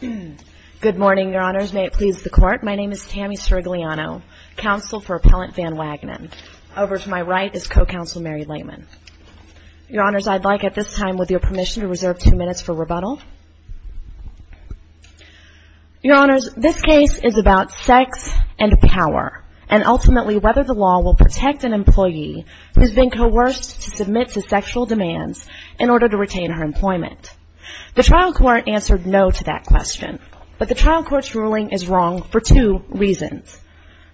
Good morning, Your Honors. May it please the Court, my name is Tammy Sirigliano, Counsel for Appellant Van Wagenen. Over to my right is Co-Counsel Mary Lehman. Your Honors, I'd like at this time, with your permission, to reserve two minutes for rebuttal. Your Honors, this case is about sex and power, and ultimately whether the law will protect an employee who's been coerced to submit to sexual demands in order to retain her employment. The trial court answered no to that question. But the trial court's ruling is wrong for two reasons.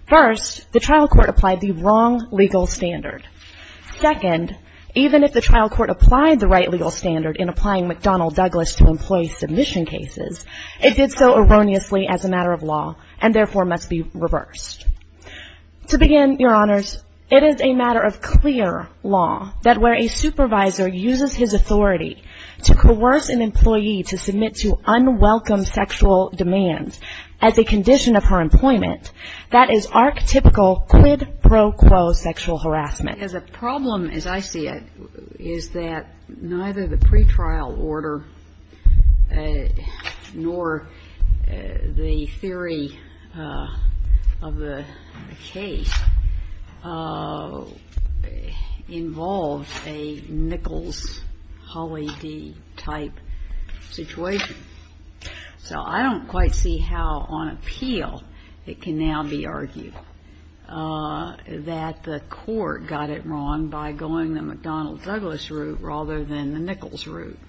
First, the trial court applied the wrong legal standard. Second, even if the trial court applied the right legal standard in applying McDonnell-Douglas to employee submission cases, it did so erroneously as a matter of law, and therefore must be reversed. To begin, Your Honors, it is a matter of clear law that where a supervisor uses his authority to coerce an employee to submit to unwelcome sexual demands as a condition of her employment, that is archetypical quid pro quo sexual harassment. As a problem, as I see it, is that neither the pretrial order nor the theory of the case involved a Nichols-Hawley-Dee type situation. So I don't quite see how on appeal it can now be argued that the court got it wrong by going the McDonnell-Douglas route rather than the Nichols route.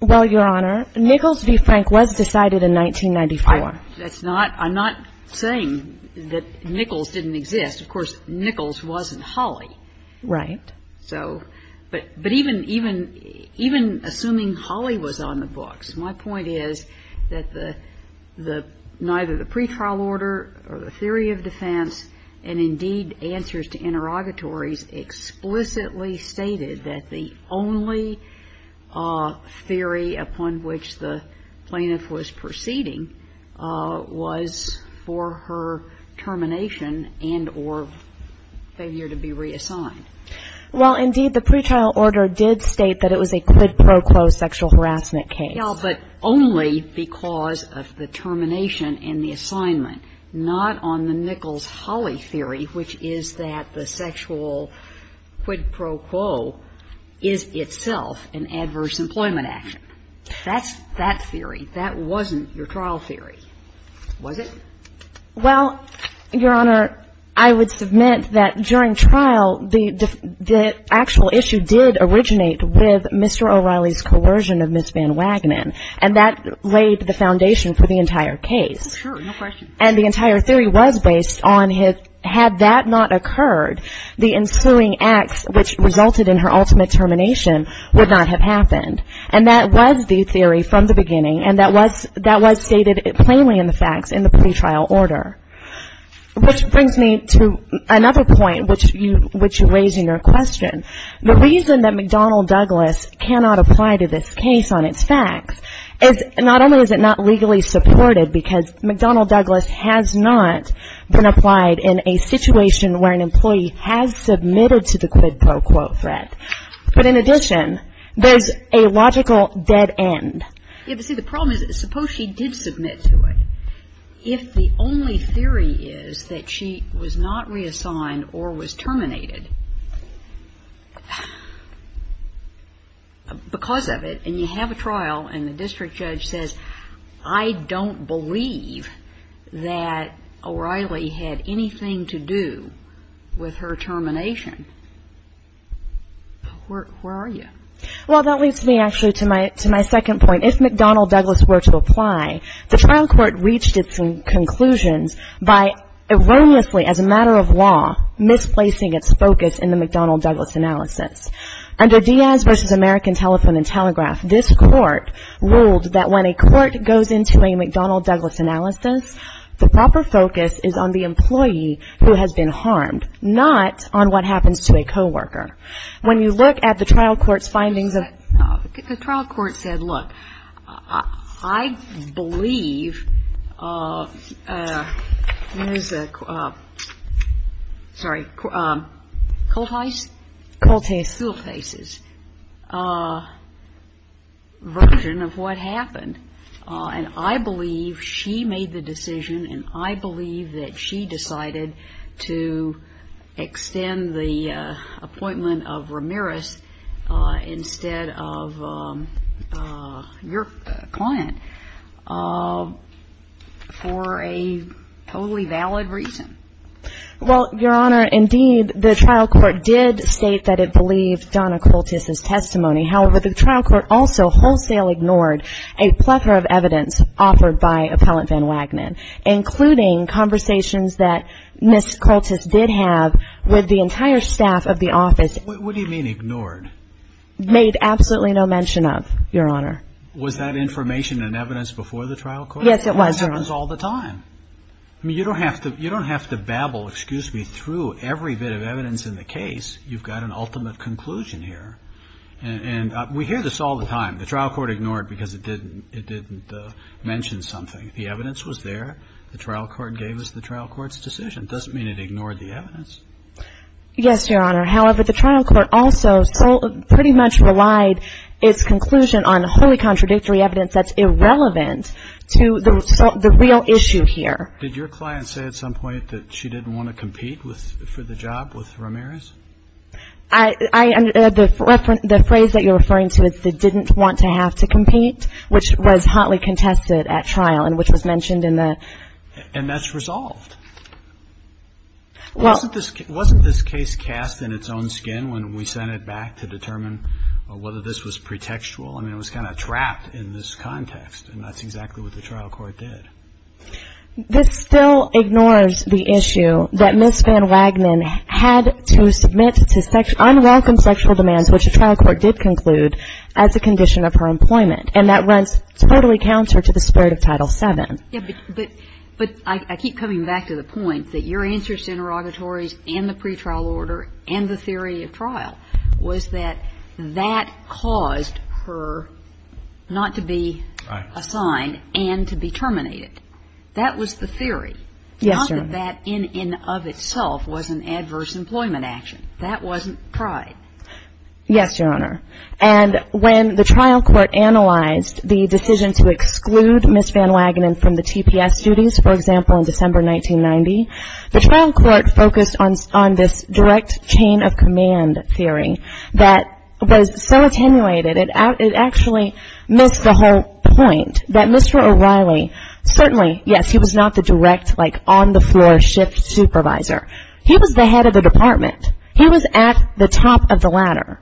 Well, Your Honor, Nichols v. Frank was decided in 1994. I'm not saying that Nichols didn't exist. Of course, Nichols wasn't Hawley. Right. But even assuming Hawley was on the books, my point is that neither the pretrial order or the theory of defense and indeed answers to interrogatories explicitly stated that the only theory upon which the plaintiff was proceeding was for her termination and or failure to be reassigned. Well, indeed, the pretrial order did state that it was a quid pro quo sexual harassment case. Well, but only because of the termination and the assignment, not on the Nichols-Hawley theory, which is that the sexual quid pro quo is itself an adverse employment action. That's that theory. That wasn't your trial theory, was it? Well, Your Honor, I would submit that during trial, the actual issue did originate with Mr. O'Reilly's coercion of Ms. Van Wagenen, and that laid the foundation for the entire case. Sure, no question. And the entire theory was based on had that not occurred, the ensuing acts which resulted in her ultimate termination would not have happened. And that was the theory from the beginning, and that was stated plainly in the facts in the pretrial order, which brings me to another point which you raised in your question. The reason that McDonnell Douglas cannot apply to this case on its facts is not only is it not legally supported because McDonnell Douglas has not been applied in a situation where an employee has submitted to the quid pro quo threat, but in addition, there's a logical dead end. Yes, but see, the problem is suppose she did submit to it. If the only theory is that she was not reassigned or was terminated because of it, and you have a trial and the district judge says, I don't believe that O'Reilly had anything to do with her termination, where are you? Well, that leads me actually to my second point. If McDonnell Douglas were to apply, the trial court reached its conclusions by erroneously, as a matter of law, misplacing its focus in the McDonnell Douglas analysis. Under Diaz v. American Telephone and Telegraph, this court ruled that when a court goes into a McDonnell Douglas analysis, the proper focus is on the employee who has been harmed, not on what happens to a coworker. When you look at the trial court's findings of the trial court said, look, I believe there's a, sorry, Colthais? Colthais. Colthais's version of what happened. And I believe she made the decision and I believe that she decided to extend the appointment of Ramirez instead of your client for a totally valid reason. Well, Your Honor, indeed, the trial court did state that it believed Donna Colthais's testimony. However, the trial court also wholesale ignored a plethora of evidence offered by Appellant Van Wagner, including conversations that Ms. Colthais did have with the entire staff of the office. What do you mean ignored? Made absolutely no mention of, Your Honor. Was that information and evidence before the trial court? Yes, it was, Your Honor. That happens all the time. I mean, you don't have to babble, excuse me, through every bit of evidence in the case. You've got an ultimate conclusion here. And we hear this all the time. The trial court ignored because it didn't mention something. The evidence was there. The trial court gave us the trial court's decision. It doesn't mean it ignored the evidence. Yes, Your Honor. However, the trial court also pretty much relied its conclusion on wholly contradictory evidence that's irrelevant to the real issue here. Did your client say at some point that she didn't want to compete for the job with Ramirez? The phrase that you're referring to is they didn't want to have to compete, which was hotly contested at trial and which was mentioned in the. And that's resolved. Well. Wasn't this case cast in its own skin when we sent it back to determine whether this was pretextual? I mean, it was kind of trapped in this context, and that's exactly what the trial court did. This still ignores the issue that Ms. Van Wagnon had to submit to unwelcome sexual demands, which the trial court did conclude, as a condition of her employment. And that runs totally counter to the spirit of Title VII. But I keep coming back to the point that your answers to interrogatories and the pretrial order and the theory of trial was that that caused her not to be assigned and to be terminated. That was the theory. Yes, Your Honor. Not that that in and of itself was an adverse employment action. That wasn't tried. Yes, Your Honor. And when the trial court analyzed the decision to exclude Ms. Van Wagnon from the TPS duties, for example, in December 1990, the trial court focused on this direct chain of command theory that was so attenuated it actually missed the whole point, that Mr. O'Reilly, certainly, yes, he was not the direct, like, on-the-floor shift supervisor. He was the head of the department. He was at the top of the ladder.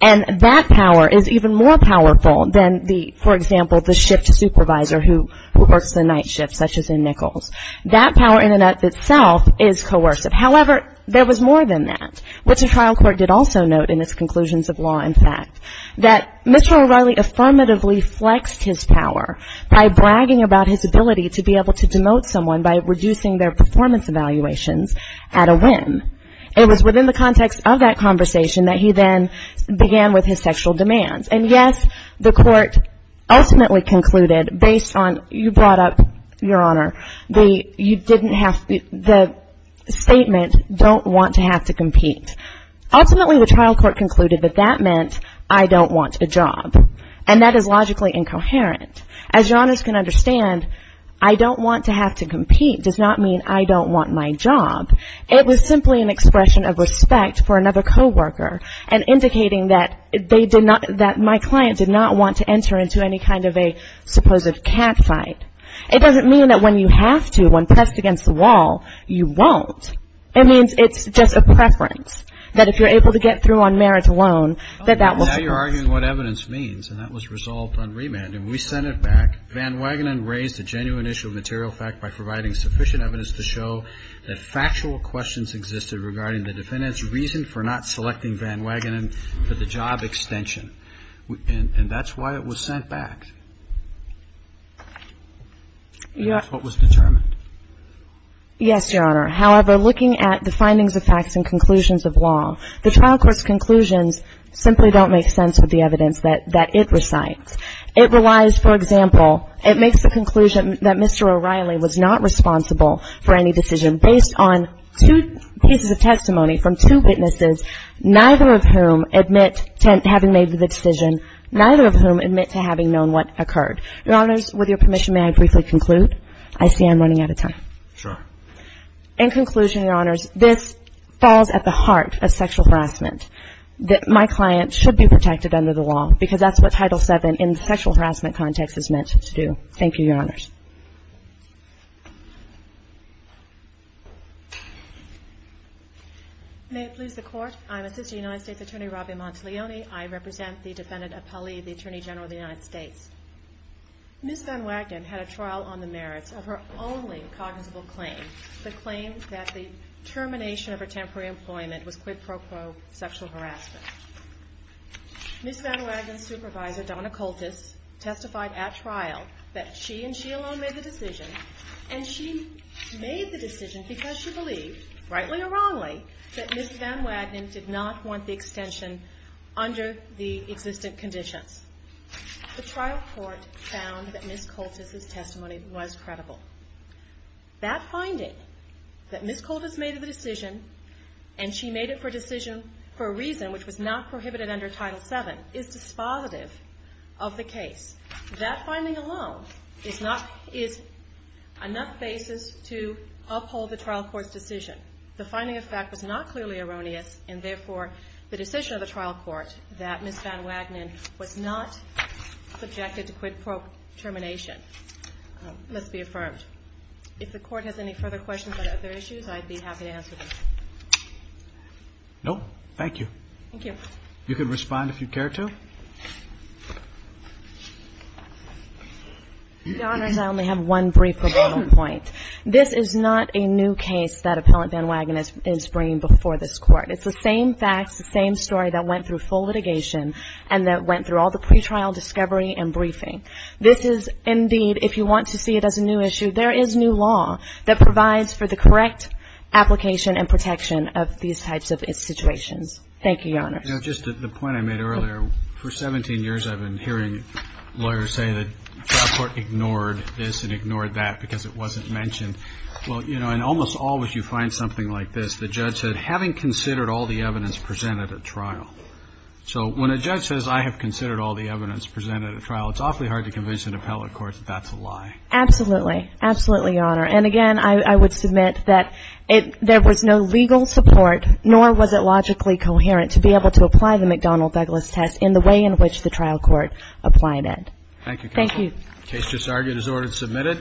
And that power is even more powerful than, for example, the shift supervisor who works the night shifts, such as in Nichols. That power in and of itself is coercive. However, there was more than that, which the trial court did also note in its conclusions of law and fact, that Mr. O'Reilly affirmatively flexed his power by bragging about his ability to be able to demote someone by reducing their performance evaluations at a whim. It was within the context of that conversation that he then began with his sexual demands. And, yes, the court ultimately concluded, based on, you brought up, Your Honor, the statement, don't want to have to compete. Ultimately, the trial court concluded that that meant, I don't want a job. And that is logically incoherent. As Your Honors can understand, I don't want to have to compete does not mean I don't want my job. It was simply an expression of respect for another coworker and indicating that they did not, that my client did not want to enter into any kind of a supposed catfight. It doesn't mean that when you have to, when pressed against the wall, you won't. It means it's just a preference, that if you're able to get through on merit alone, that that will suffice. Now you're arguing what evidence means, and that was resolved on remand, and we sent it back. Van Wagenen raised a genuine issue of material fact by providing sufficient evidence to show that factual questions existed regarding the defendant's reason for not selecting Van Wagenen for the job extension. And that's why it was sent back. And that's what was determined. Yes, Your Honor. However, looking at the findings of facts and conclusions of law, the trial court's conclusions simply don't make sense with the evidence that it recites. It relies, for example, it makes the conclusion that Mr. O'Reilly was not responsible for any decision based on two pieces of testimony from two witnesses, neither of whom admit to having made the decision, neither of whom admit to having known what occurred. Your Honors, with your permission, may I briefly conclude? I see I'm running out of time. Sure. In conclusion, Your Honors, this falls at the heart of sexual harassment, that my client should be protected under the law, because that's what Title VII in the sexual harassment context is meant to do. Thank you, Your Honors. May it please the Court. I'm Assistant United States Attorney Robbie Montalioni. I represent the defendant Appali, the Attorney General of the United States. Ms. Van Wagenen had a trial on the merits of her only cognizable claim, the claim that the termination of her temporary employment was quid pro quo sexual harassment. Ms. Van Wagenen's supervisor, Donna Coltus, testified at trial that she and she alone made the decision, and she made the decision because she believed, rightly or wrongly, that Ms. Van Wagenen did not want the extension under the existing conditions. The trial court found that Ms. Coltus's testimony was credible. That finding, that Ms. Coltus made the decision, and she made it for a reason which was not prohibited under Title VII, is dispositive of the case. That finding alone is enough basis to uphold the trial court's decision. The finding of fact was not clearly erroneous, and therefore the decision of the trial court that Ms. Van Wagenen was not subjected to quid pro termination must be affirmed. If the court has any further questions on other issues, I'd be happy to answer them. No, thank you. Thank you. You can respond if you care to. Your Honors, I only have one brief rebuttal point. This is not a new case that Appellant Van Wagenen is bringing before this Court. It's the same facts, the same story that went through full litigation and that went through all the pretrial discovery and briefing. This is indeed, if you want to see it as a new issue, there is new law that provides for the correct application and protection of these types of situations. Thank you, Your Honors. Just the point I made earlier, for 17 years I've been hearing lawyers say that trial court ignored this and ignored that because it wasn't mentioned. Well, you know, and almost always you find something like this. The judge said, having considered all the evidence presented at trial. It's awfully hard to convince an appellate court that that's a lie. Absolutely. Absolutely, Your Honor. And, again, I would submit that there was no legal support, nor was it logically coherent to be able to apply the McDonnell-Beglis test in the way in which the trial court applied it. Thank you, Counsel. Thank you. The case just argued as ordered and submitted.